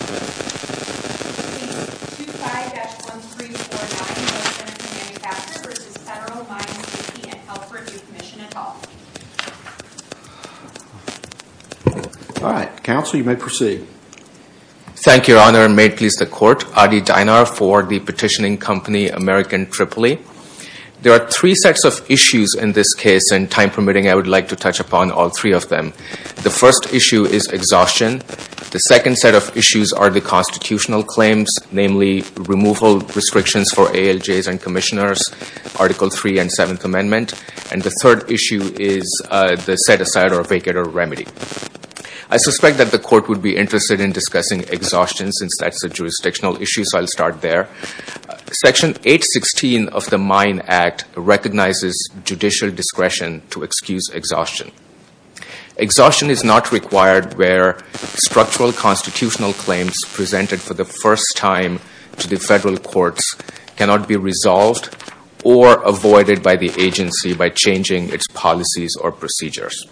All right. Counsel, you may proceed. Thank you, Your Honor, and may it please the Court. Adi Dinar for the petitioning company American Tripoli. There are three sets of issues in this case, and time permitting, I would like to touch upon all three of them. The first issue is exhaustion. The second set of issues are the constitutional claims, namely removal restrictions for ALJs and commissioners, Article III and Seventh Amendment. And the third issue is the set-aside or vacate or remedy. I suspect that the Court would be interested in discussing exhaustion since that's a jurisdictional issue, so I'll start there. Section 816 of the MINE Act recognizes judicial discretion to excuse exhaustion. Exhaustion is not required where structural constitutional claims presented for the first time to the federal courts cannot be resolved or avoided by the agency by changing its policies or procedures.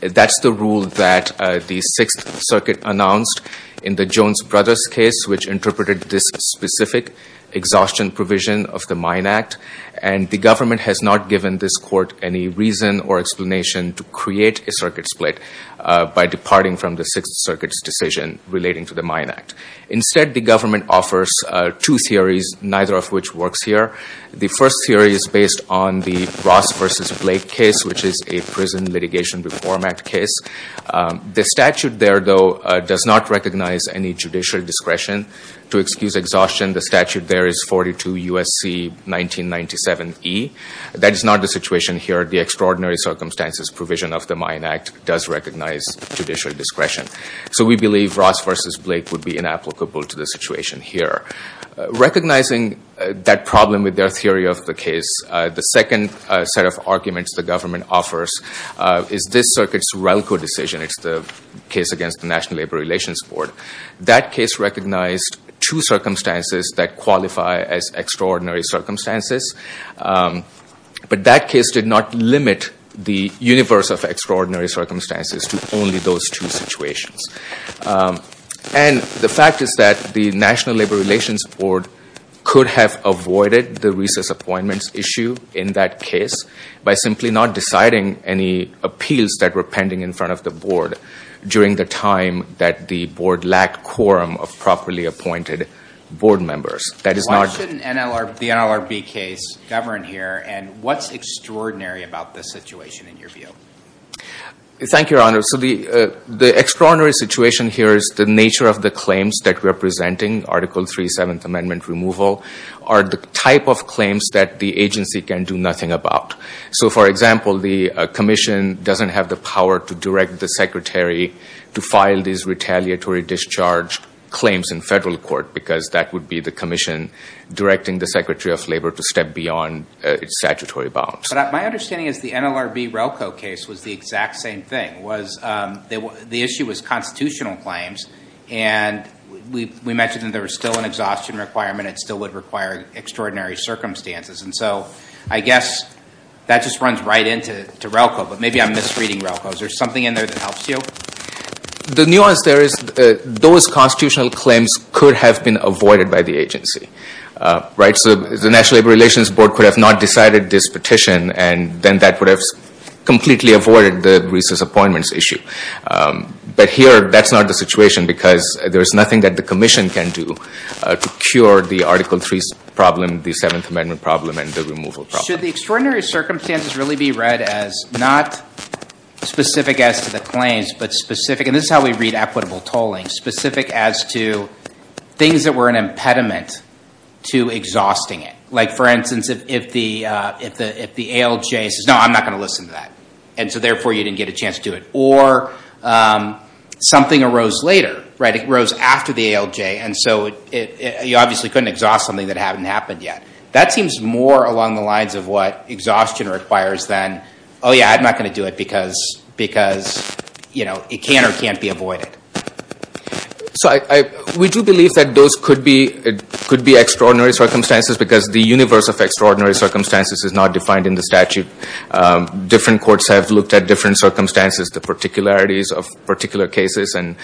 That's the rule that the Sixth Circuit announced in the Jones Brothers case, which interpreted this specific exhaustion provision of the MINE Act, and the government has not given this Court any reason or explanation to create a circuit split by departing from the Sixth Circuit's decision relating to the MINE Act. Instead, the government offers two theories, neither of which works here. The first theory is based on the Ross v. Blake case, which is a Prison Litigation Reform Act case. The statute there, though, does not recognize any judicial discretion to excuse exhaustion. The statute there is 42 U.S.C. 1997e. That is not the situation here. The extraordinary circumstances provision of the MINE Act does recognize judicial discretion. So we believe Ross v. Blake would be inapplicable to the situation here. Recognizing that problem with their theory of the case, the second set of arguments the government offers is this Circuit's RELCO decision. It's the case against the National Labor Relations Board. That case recognized two circumstances that qualify as extraordinary circumstances, but that case did not limit the universe of extraordinary circumstances to only those two situations. And the fact is that the National Labor Relations Board could have avoided the recess appointments issue in that case by simply not deciding any appeals that were pending in front of the board during the time that the board lacked quorum of properly appointed board members. Why shouldn't the NLRB case govern here, and what's extraordinary about this situation in your view? Thank you, Your Honor. So the extraordinary situation here is the nature of the claims that we're presenting, Article 3, Seventh Amendment removal, are the type of claims that the agency can do nothing about. So, for example, the commission doesn't have the power to direct the secretary to file these retaliatory discharge claims in federal court because that would be the commission directing the Secretary of Labor to step beyond its statutory bounds. But my understanding is the NLRB RELCO case was the exact same thing. The issue was constitutional claims, and we mentioned that there was still an exhaustion requirement. It still would require extraordinary circumstances. And so I guess that just runs right into RELCO, but maybe I'm misreading RELCO. Is there something in there that helps you? The nuance there is those constitutional claims could have been avoided by the agency. So the National Labor Relations Board could have not decided this petition, and then that would have completely avoided the recess appointments issue. But here, that's not the situation because there's nothing that the commission can do to cure the Article 3 problem, the Seventh Amendment problem, and the removal problem. Should the extraordinary circumstances really be read as not specific as to the claims, but specific, and this is how we read equitable tolling, specific as to things that were an extraordinary circumstance. Like, for instance, if the ALJ says, no, I'm not going to listen to that, and so therefore, you didn't get a chance to do it. Or something arose later, right? It rose after the ALJ, and so you obviously couldn't exhaust something that hadn't happened yet. That seems more along the lines of what exhaustion requires than, oh, yeah, I'm not going to do it because it can or can't be avoided. So we do believe that those could be extraordinary circumstances because the universe of extraordinary circumstances is not defined in the statute. Different courts have looked at different circumstances, the particularities of particular cases, and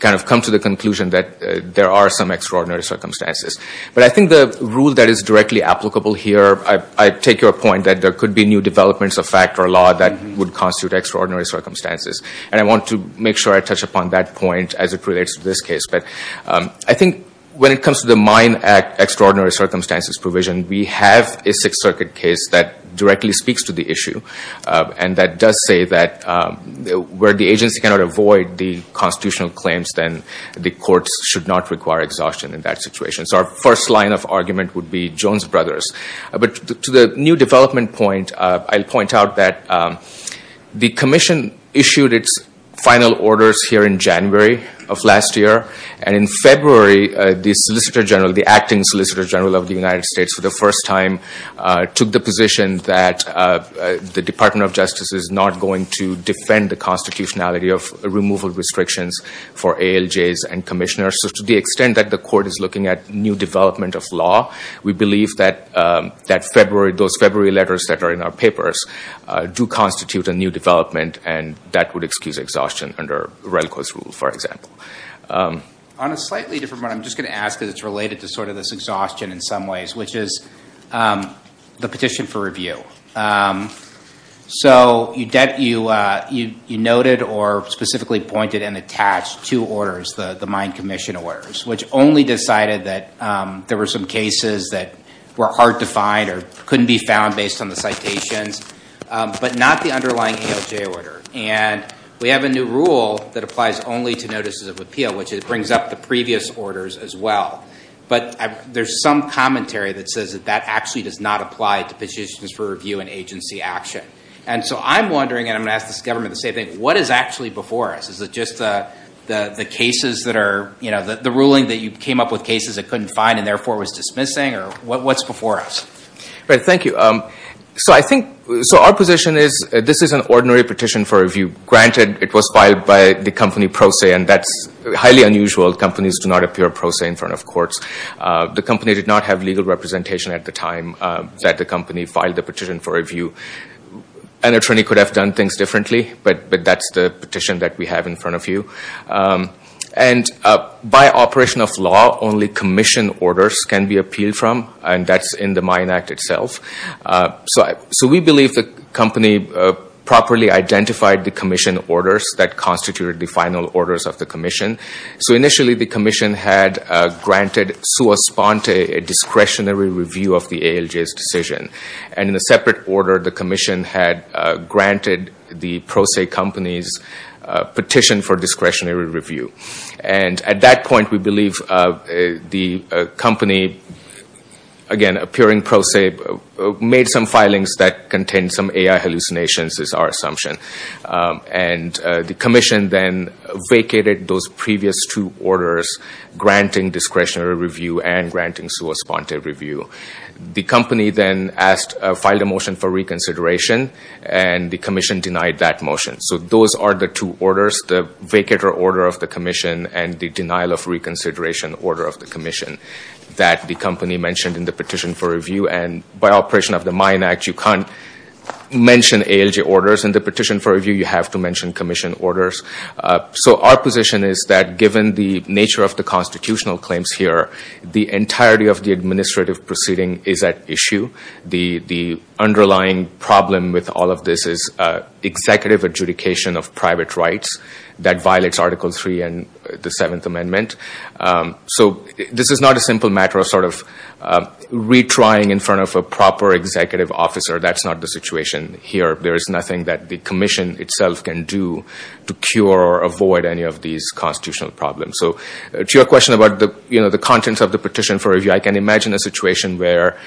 kind of come to the conclusion that there are some extraordinary circumstances. But I think the rule that is directly applicable here, I take your point that there could be new developments of fact or law that would constitute extraordinary circumstances. And I want to make sure I touch upon that point as it relates to this case. But I think when it comes to the Mine Act extraordinary circumstances provision, we have a Sixth Circuit case that directly speaks to the issue, and that does say that where the agency cannot avoid the constitutional claims, then the courts should not require exhaustion in that situation. So our first line of argument would be Jones Brothers. But to the new development point, I'll point out that the commission issued its final orders here in January of last year. And in February, the solicitor general, the acting solicitor general of the United States, for the first time took the position that the Department of Justice is not going to defend the constitutionality of removal restrictions for ALJs and commissioners. So to the extent that the court is looking at new development of law, we believe that those February letters that are in our papers do constitute a new development, and that would excuse exhaustion under Relco's rule, for example. On a slightly different point, I'm just going to ask because it's related to this exhaustion in some ways, which is the petition for review. So you noted or specifically pointed and attached two orders, the mine commission orders, which only decided that there were some cases that were hard to find or couldn't be found based on the citations, but not the underlying ALJ order. And we have a new rule that applies only to notices of appeal, which brings up the previous orders as well. But there's some commentary that says that that actually does not apply to petitions for review and agency action. And so I'm wondering, and I'm going to ask this government the same thing, what is actually before us? Is it just the ruling that you came up with cases it couldn't find and therefore was dismissing, or what's before us? Right, thank you. So our position is this is an ordinary petition for review. Granted, it was filed by the company Proce, and that's highly unusual. Companies do not appear Proce in front of courts. The company did not have legal representation at the time that the company filed the petition for review. An attorney could have done things differently, but that's the petition that we have in front of you. And by operation of law, only commission orders can be appealed from, and that's in the Mine Act itself. So we believe the company properly identified the commission orders that constituted the final orders of the commission. So initially the commission had granted sua sponte a discretionary review of the ALJ's decision. And in a separate order, the commission had granted the Proce company's petition for discretionary review. And at that point, we believe the company, again, appearing Proce, made some filings that contained some AI hallucinations is our assumption. And the commission then vacated those previous two orders, granting discretionary review and granting sua sponte a discretionary review. The company then filed a motion for reconsideration, and the commission denied that motion. So those are the two orders, the vacator order of the commission and the denial of reconsideration order of the commission that the company mentioned in the petition for review. And by operation of the Mine Act, you can't mention ALJ orders. In the petition for review, you have to mention commission orders. So our position is that given the nature of the constitutional claims here, the entirety of the administrative proceeding is at issue. The underlying problem with all of this is executive adjudication of private rights that violates Article III and the Seventh Amendment. So this is not a simple matter of sort of retrying in front of a proper executive officer. That's not the situation here. There is nothing that the commission itself can do to cure or avoid any of these constitutional problems. So to your question about the contents of the petition for review, I can imagine a situation where,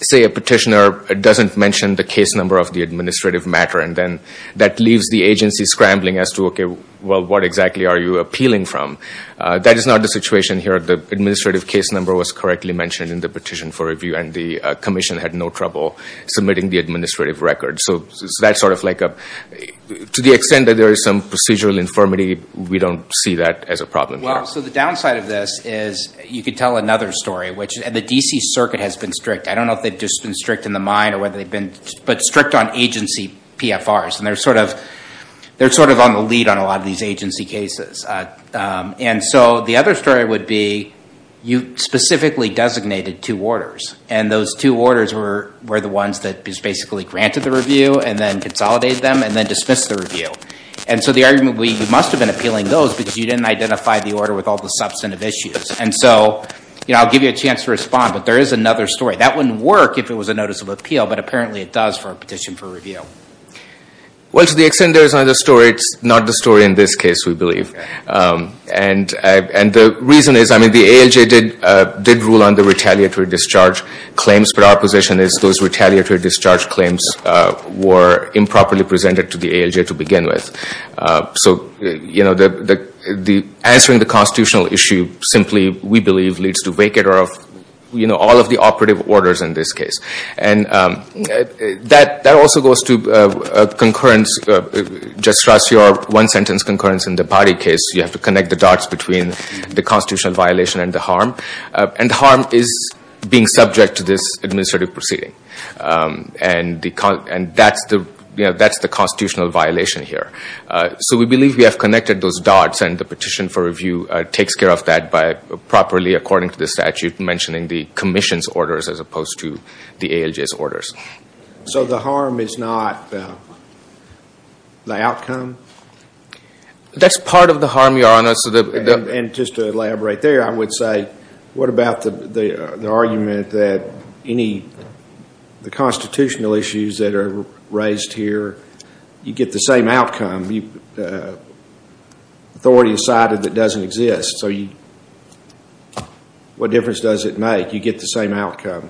say, a petitioner doesn't mention the case number of the administrative matter, and then that leaves the agency scrambling as to, OK, well, what exactly are you appealing from? That is not the situation here. The administrative case number was correctly mentioned in the petition for review, and the commission had no trouble submitting the administrative record. So that's sort of like a—to the extent that there is some procedural infirmity, we don't see that as a problem here. Well, so the downside of this is you could tell another story, which the D.C. Circuit has been strict. I don't know if they've just been strict in the mind or whether they've been—but strict on agency PFRs, and they're sort of on the lead on a lot of these agency cases. And so the other story would be you specifically designated two orders, and those two orders were the ones that basically granted the review and then consolidated them and then dismissed the review. And so the argument would be you must have been appealing those because you didn't identify the order with all the substantive issues. And so, you know, I'll give you a chance to respond, but there is another story. That wouldn't work if it was a notice of appeal, but apparently it does for a petition for review. Well, to the extent there is another story, it's not the story in this case, we believe. And the reason is, I mean, the ALJ did rule on the retaliatory discharge claims, but our position is those retaliatory discharge claims were improperly presented to the ALJ to begin with. So, you know, the answering the constitutional issue simply, we believe, leads to vacator of, you know, all of the operative orders in this case. And that also goes to concurrence. Just stress your one-sentence concurrence in the body case. You have to connect the dots between the constitutional violation and the harm. And the harm is being subject to this administrative proceeding. And that's the constitutional violation here. So we believe we have connected those dots and the petition for review takes care of that by properly, according to the statute, mentioning the commission's orders as opposed to the ALJ's orders. So the harm is not the outcome? That's part of the harm, Your Honor. And just to elaborate there, I would say, what about the argument that any of the constitutional issues that are raised here, you get the same outcome? Authority decided it doesn't exist. So what difference does it make? You get the same outcome.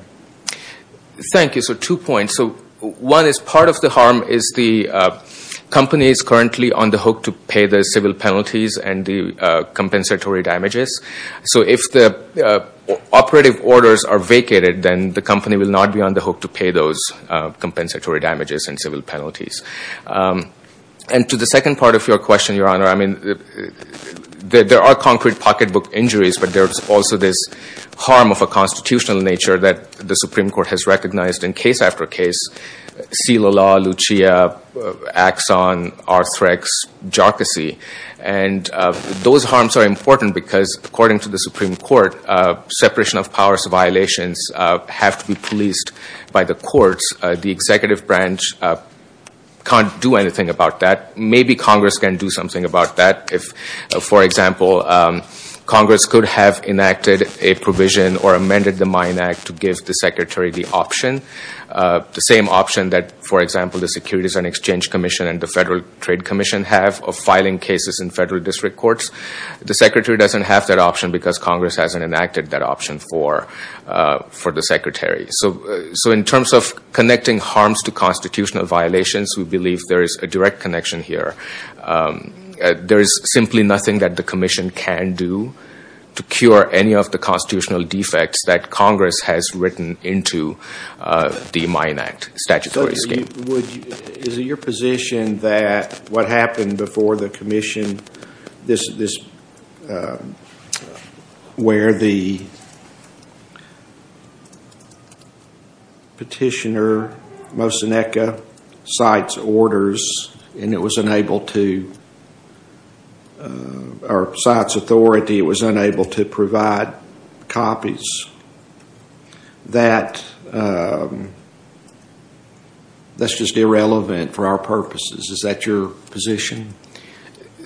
Thank you. So two points. One is part of the harm is the company is currently on the hook to pay the civil penalties and the compensatory damages. So if the operative orders are vacated, then the company will not be on the hook to pay those compensatory damages and civil penalties. And to the second part of your question, Your Honor, I mean, there are concrete pocketbook injuries, but there's also this harm of a constitutional nature that the Supreme Court has recognized in case after case, Celalaw, Lucia, Axon, Arthrex, Jocasey. And those harms are important because, according to the Supreme Court, separation of powers violations have to be policed by the courts. The executive branch can't do anything about that. Maybe Congress can do something about that. For example, Congress could have enacted a provision or amended the Mine Act to give the Secretary the option, the same option that, for example, the Securities and Exchange Commission and the Federal Trade Commission have of filing cases in federal district courts. The Secretary doesn't have that option because Congress hasn't enacted that option for the Secretary. So in terms of connecting harms to constitutional violations, we believe there is a direct connection here. There is simply nothing that the Commission can do to cure any of the constitutional defects that Congress has written into the Mine Act statutory scheme. Is it your position that what happened before the Commission, where the petitioner, Moseneke, cites orders and it was unable to, or cites authority, it was unable to provide copies, that's just irrelevant for our purposes? Is that your position?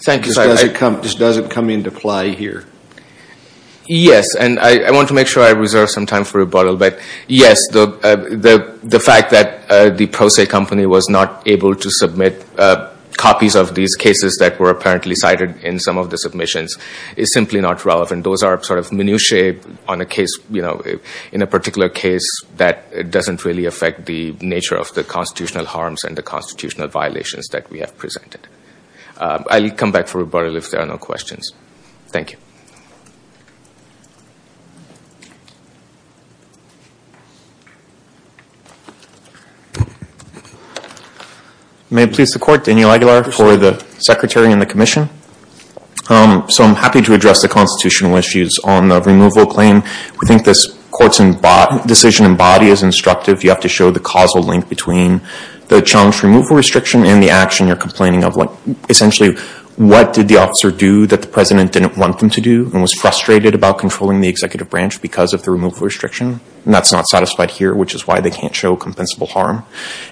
Thank you, sir. It just doesn't come into play here. Yes, and I want to make sure I reserve some time for rebuttal, but yes, the fact that the Proce Company was not able to submit copies of these cases that were apparently cited in some of the submissions is simply not relevant. Those are sort of minutiae in a particular case that doesn't really affect the nature of the constitutional harms and the constitutional violations that we have presented. I'll come back for rebuttal if there are no questions. Thank you. May it please the Court, Daniel Aguilar for the Secretary and the Commission. I'm happy to address the constitutional issues on the removal claim. We think this Court's decision and body is instructive. You have to show the causal link between the challenge removal restriction and the action you're complaining of. Essentially, what did the officer do that the President didn't want them to do and was frustrated about controlling the executive branch because of the removal restriction? That's not satisfied here, which is why they can't show compensable harm.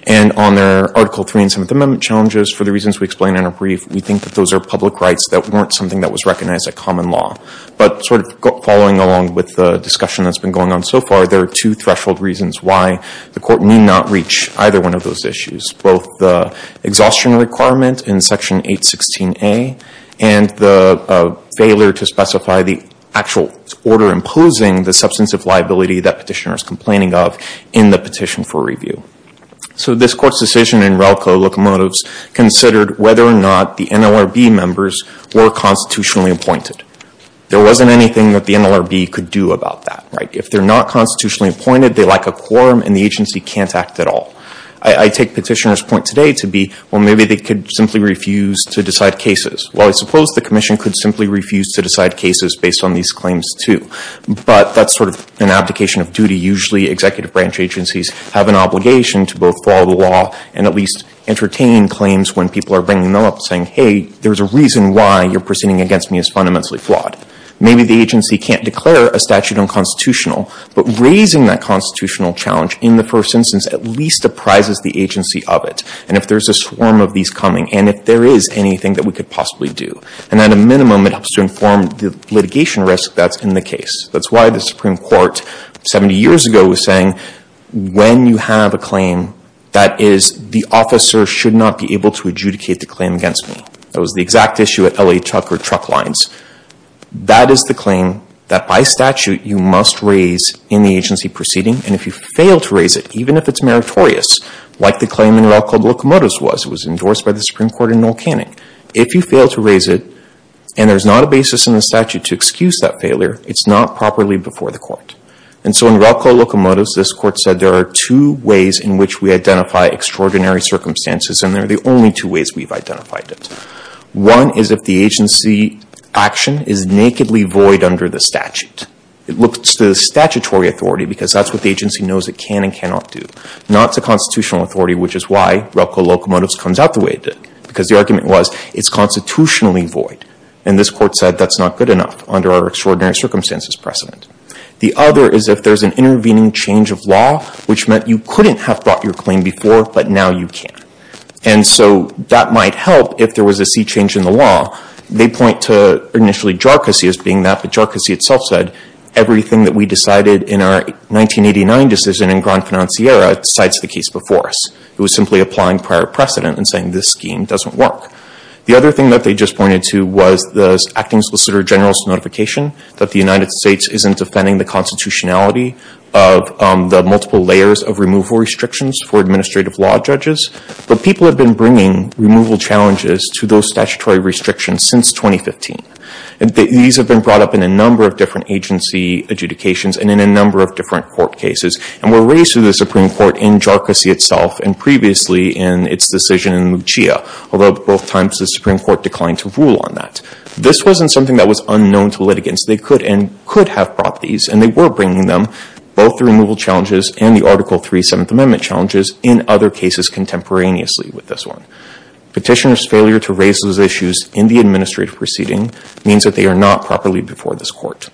On their Article 3 and 7th Amendment challenges, for the reasons we explained in our brief, we think that those are public rights that weren't something that was recognized as common law. Following along with the discussion that's been going on so far, there are two threshold reasons why the Court need not reach either one of those issues, both the exhaustion requirement in Section 816A and the failure to specify the actual order imposing the substantive liability that petitioner is complaining of in the petition for review. This Court's decision in RELCO Locomotives considered whether or not the NLRB members were constitutionally appointed. There wasn't anything that the NLRB could do about that. If they're not constitutionally appointed, they lack a quorum and the agency can't act at all. I take petitioner's point today to be, well, maybe they could simply refuse to decide cases. Well, I suppose the Commission could simply refuse to decide cases based on these claims, too. But that's sort of an abdication of duty. Usually, executive branch agencies have an obligation to both follow the law and at least entertain claims when people are bringing them up saying, hey, there's a reason why you're proceeding against me as fundamentally flawed. Maybe the agency can't declare a statute unconstitutional, but raising that constitutional challenge in the first instance at least apprises the agency of it. And if there's a swarm of these coming, and if there is anything that we could possibly do, and at a minimum, it helps to inform the litigation risk that's in the case. That's why the Supreme Court 70 years ago was saying, when you have a claim that is the officer should not be able to adjudicate the claim against me. That was the exact issue at L.A. Tucker Truck Lines. That is the claim that, by statute, you must raise in the agency proceeding. And if you fail to raise it, even if it's meritorious, like the claim in Relco Locomotives was, it was endorsed by the Supreme Court in Noel Canning. If you fail to raise it, and there's not a basis in the statute to excuse that failure, it's not properly before the Court. And so in Relco Locomotives, this Court said there are two ways in which we identify extraordinary circumstances, and they're the only two ways we've identified it. One is if the agency action is nakedly void under the statute. It looks to the statutory authority, because that's what the agency knows it can and cannot do. Not to constitutional authority, which is why Relco Locomotives comes out the way it did, because the argument was, it's constitutionally void. And this Court said that's not good enough under our extraordinary circumstances precedent. The other is if there's an intervening change of law, which meant you couldn't have brought your claim before, but now you can. And so that might help if there was a sea change in the law. They point to initially JARCASI as being that, but JARCASI itself said, everything that we decided in our 1989 decision in Grand Financiera cites the case before us. It was simply applying prior precedent and saying this scheme doesn't work. The other thing that they just pointed to was the Acting Solicitor General's notification that the United States isn't defending the constitutionality of the multiple layers of removal restrictions for administrative law judges. But people have been bringing removal challenges to those statutory restrictions since 2015. And these have been brought up in a number of different agency adjudications and in a number of different court cases, and were raised to the Supreme Court in JARCASI itself and previously in its decision in Lucia, although both times the Supreme Court declined to rule on that. This wasn't something that was unknown to litigants. They could and could have brought these, and they were bringing them, both the removal challenges and the Article 3 Seventh Amendment challenges in other cases contemporaneously with this one. Petitioner's failure to raise those issues in the administrative proceeding means that they are not properly before this court.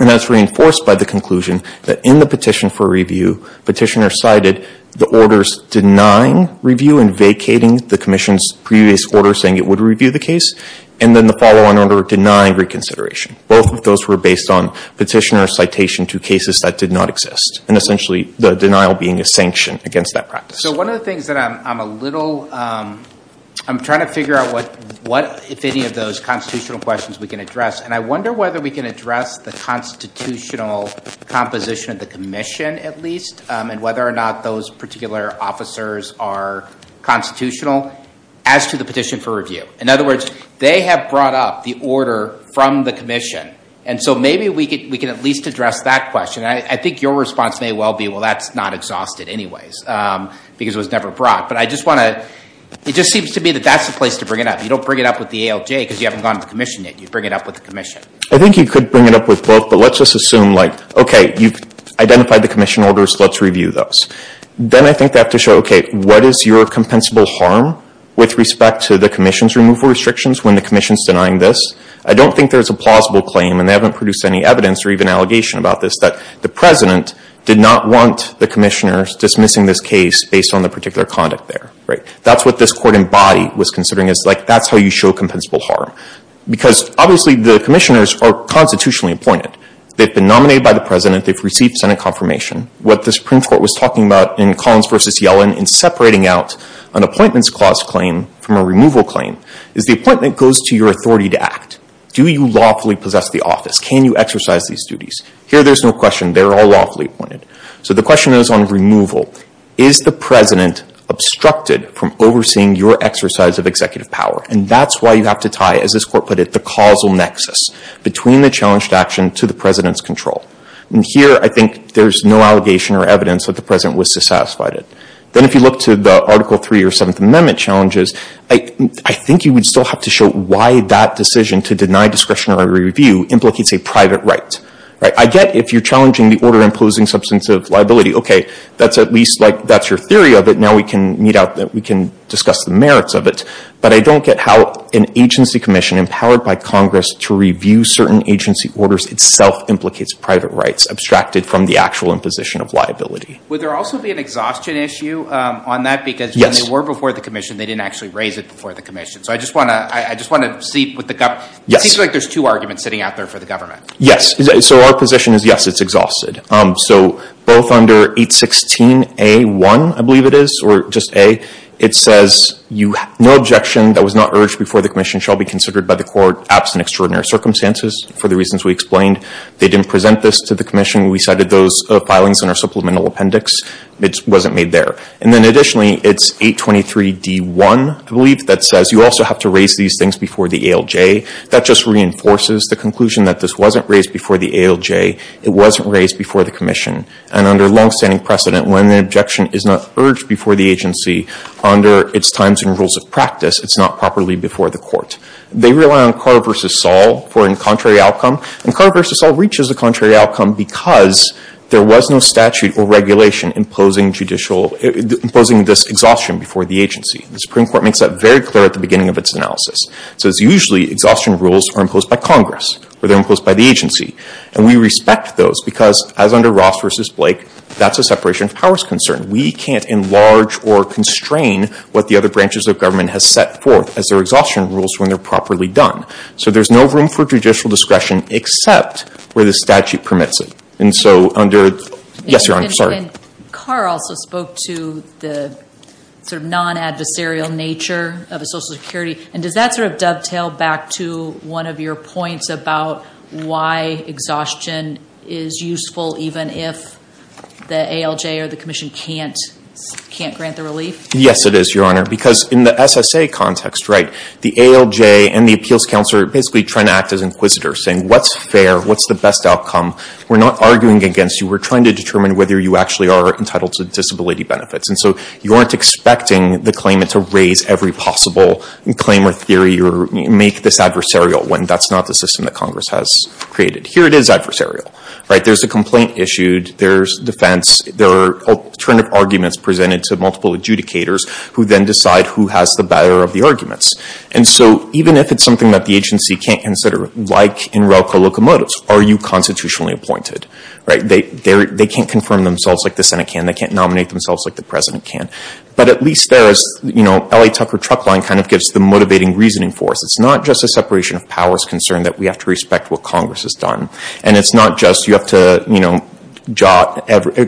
And that's reinforced by the conclusion that in the petition for review, petitioner cited the orders denying review and vacating the commission's previous order saying it would review the case, and then the follow-on order denying reconsideration. Both of those were based on petitioner citation to cases that did not exist. And essentially, the denial being a sanction against that practice. So one of the things that I'm a little, I'm trying to figure out what, if any, of those constitutional questions we can address. And I wonder whether we can address the constitutional composition of the commission at least, and whether or not those particular officers are constitutional as to the petition for review. In other words, they have brought up the order from the commission. And so maybe we can at least address that question. And I think your response may well be, well, that's not exhausted anyways, because it was never brought. But I just want to, it just seems to me that that's the place to bring it up. You don't bring it up with the ALJ because you haven't gone to the commission yet. You bring it up with the commission. I think you could bring it up with both, but let's just assume like, okay, you've identified the commission orders, let's review those. Then I think they have to show, okay, what is your compensable harm with respect to the commission's removal restrictions when the commission's denying this? I don't think there's a plausible claim, and they haven't produced any evidence or even allegation about this, that the president did not want the commissioners dismissing this case based on the particular conduct there. That's what this court in body was considering is like, that's how you show compensable harm. Because obviously the commissioners are constitutionally appointed. They've been nominated by the president. They've received Senate confirmation. What the Supreme Court was talking about in Collins versus Yellen in separating out an appointments clause claim from a removal claim, is the appointment goes to your authority to act. Do you lawfully possess the office? Can you exercise these duties? Here there's no question, they're all lawfully appointed. So the question is on removal. Is the president obstructed from overseeing your exercise of executive power? And that's why you have to tie, as this court put it, the causal nexus between the challenged action to the president's control. And here I think there's no allegation or evidence that the president was dissatisfied. Then if you look to the Article 3 or 7th Amendment challenges, I think you would still have to show why that decision to deny discretionary review implicates a private right. I get if you're challenging the order imposing substantive liability, okay, that's at least like, that's your theory of it. Now we can meet out, we can discuss the merits of it. But I don't get how an agency commission empowered by Congress to review certain agency orders itself implicates private rights, abstracted from the actual imposition of liability. Would there also be an exhaustion issue on that? Because when they were before the commission, they didn't actually raise it before the commission. So I just want to see, it seems like there's two arguments sitting out there for the government. Yes, so our position is yes, it's exhausted. So both under 816A1, I believe it is, or just A, it says no objection that was not urged before the commission shall be considered by the court absent extraordinary circumstances for the reasons we explained. They didn't present this to the commission. We cited those filings in our supplemental appendix. It wasn't made there. And then additionally, it's 823D1, I believe, that says you also have to raise these things before the ALJ. That just reinforces the conclusion that this wasn't raised before the ALJ. It wasn't raised before the commission. And under long-standing precedent, when an objection is not urged before the agency under its times and rules of practice, it's not properly before the court. They rely on Carr v. Saul for a contrary outcome. And Carr v. Saul reaches the contrary outcome because there was no statute or regulation imposing this exhaustion before the agency. The Supreme Court makes that very clear at the beginning of its analysis. So it's usually exhaustion rules are imposed by Congress or they're imposed by the agency. And we respect those because, as under Ross v. Blake, that's a separation of powers concern. We can't enlarge or constrain what the other branches of government has set forth as their exhaustion rules when they're properly done. So there's no room for judicial discretion except where the statute permits it. And so under, yes, Your Honor, sorry. Carr also spoke to the non-adversarial nature of a social security. And does that sort of dovetail back to one of your points about why exhaustion is useful even if the ALJ or the commission can't grant the relief? Yes, it is, Your Honor. Because in the SSA context, the ALJ and the appeals counsel are basically trying to act as inquisitors, saying, what's fair? What's the best outcome? We're not arguing against you. We're trying to determine whether you actually are entitled to disability benefits. And so you aren't expecting the claimant to raise every possible claim or theory or make this adversarial when that's not the system that Congress has created. Here it is adversarial. There's a complaint issued. There's defense. There are alternative arguments presented to multiple adjudicators who then decide who has the better of the arguments. And so even if it's something that the agency can't consider, like in railco locomotives, are you constitutionally appointed, right? They can't confirm themselves like the Senate can. They can't nominate themselves like the president can. But at least there is, you know, LA Tucker truck line kind of gives the motivating reasoning for us. It's not just a separation of powers concern that we have to respect what Congress has done. And it's not just you have to, you know,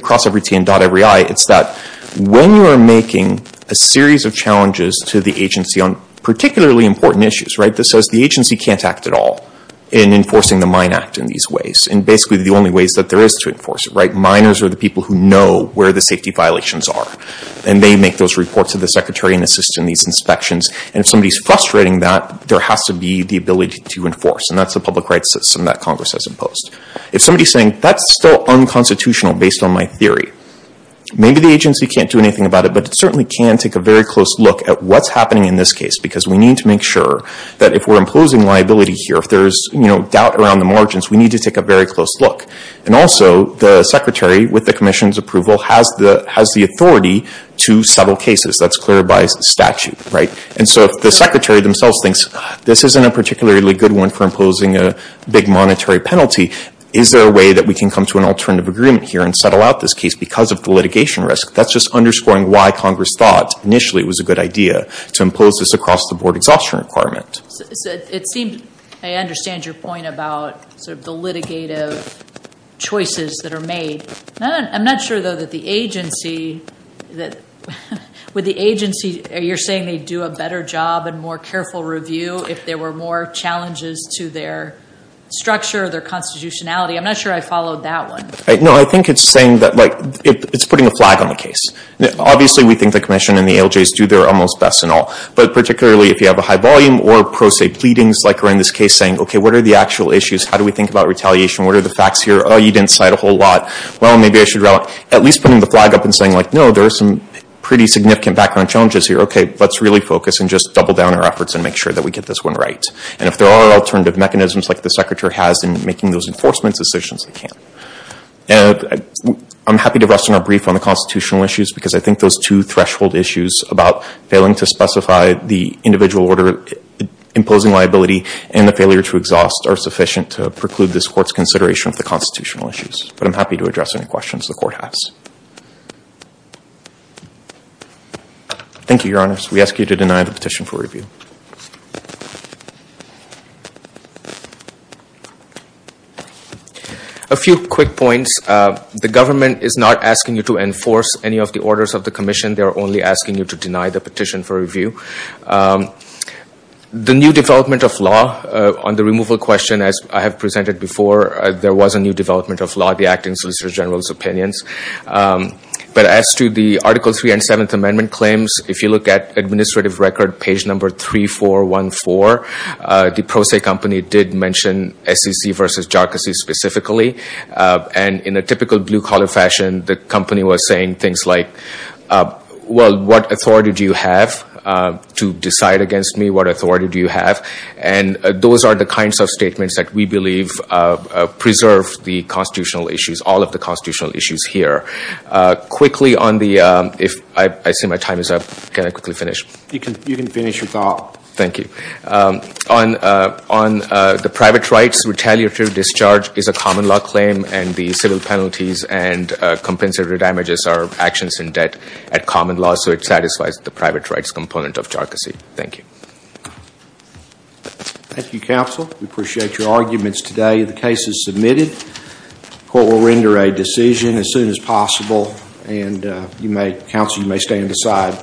cross every T and dot every I. It's that when you are making a series of challenges to the agency on particularly important issues, right, this says the agency can't act at all in enforcing the Mine Act in these ways. And basically the only ways that there is to enforce it, right? Miners are the people who know where the safety violations are. And they make those reports to the secretary and assist in these inspections. And if somebody's frustrating that, there has to be the ability to enforce. And that's the public rights system that Congress has imposed. If somebody's saying, that's still unconstitutional based on my theory, maybe the agency can't do anything about it. But it certainly can take a very close look at what's happening in this case. Because we need to make sure that if we're imposing liability here, if there's, you know, doubt around the margins, we need to take a very close look. And also the secretary with the commission's approval has the authority to settle cases that's clear by statute, right? And so if the secretary themselves thinks, this isn't a particularly good one for imposing a big monetary penalty, is there a way that we can come to an alternative agreement here and settle out this case because of the litigation risk? That's just underscoring why Congress thought, initially, it was a good idea to impose this across the board exhaustion requirement. It seems I understand your point about the litigative choices that are made. I'm not sure, though, that the agency, that with the agency, you're saying they do a better job and more careful review if there were more challenges to their structure, their constitutionality. I'm not sure I followed that one. No, I think it's saying that, like, it's putting a flag on the case. Obviously, we think the commission and the ALJs do their almost best and all. But particularly if you have a high volume or pro se pleadings, like are in this case saying, OK, what are the actual issues? How do we think about retaliation? What are the facts here? Oh, you didn't cite a whole lot. Well, maybe I should at least putting the flag up and saying, like, no, there are some pretty significant background challenges here. OK, let's really focus and just double down our efforts and make sure that we get this one right. And if there are alternative mechanisms like the secretary has in making those enforcement decisions, they can. I'm happy to rest on our brief on the constitutional issues, because I think those two threshold issues about failing to specify the individual order, imposing liability, and the failure to exhaust are sufficient to preclude this court's consideration of the constitutional issues. But I'm happy to address any questions the court has. Thank you, Your Honor. We ask you to deny the petition for review. A few quick points. The government is not asking you to enforce any of the orders of the commission. They are only asking you to deny the petition for review. The new development of law on the removal question, as I have presented before, there was a new development of law at the acting solicitor general's opinions. But as to the Article 3 and 7th Amendment claims, if you look at administrative record page number 3414, the Pro Se company did mention SEC versus JARCAS specifically. And in a typical blue collar fashion, the company was saying things like, well, what authority do you have to decide against me? What authority do you have? And those are the kinds of statements that we believe preserve the constitutional issues, all of the constitutional issues here. Quickly on the, if I see my time is up, can I quickly finish? You can finish your thought. Thank you. On the private rights, retaliatory discharge is a common law claim. And the civil penalties and compensatory damages are actions in debt at common law. So it satisfies the private rights component of JARCAS. Thank you. Thank you, counsel. We appreciate your arguments today. The case is submitted. Court will render a decision as soon as possible. And counsel, you may stand aside.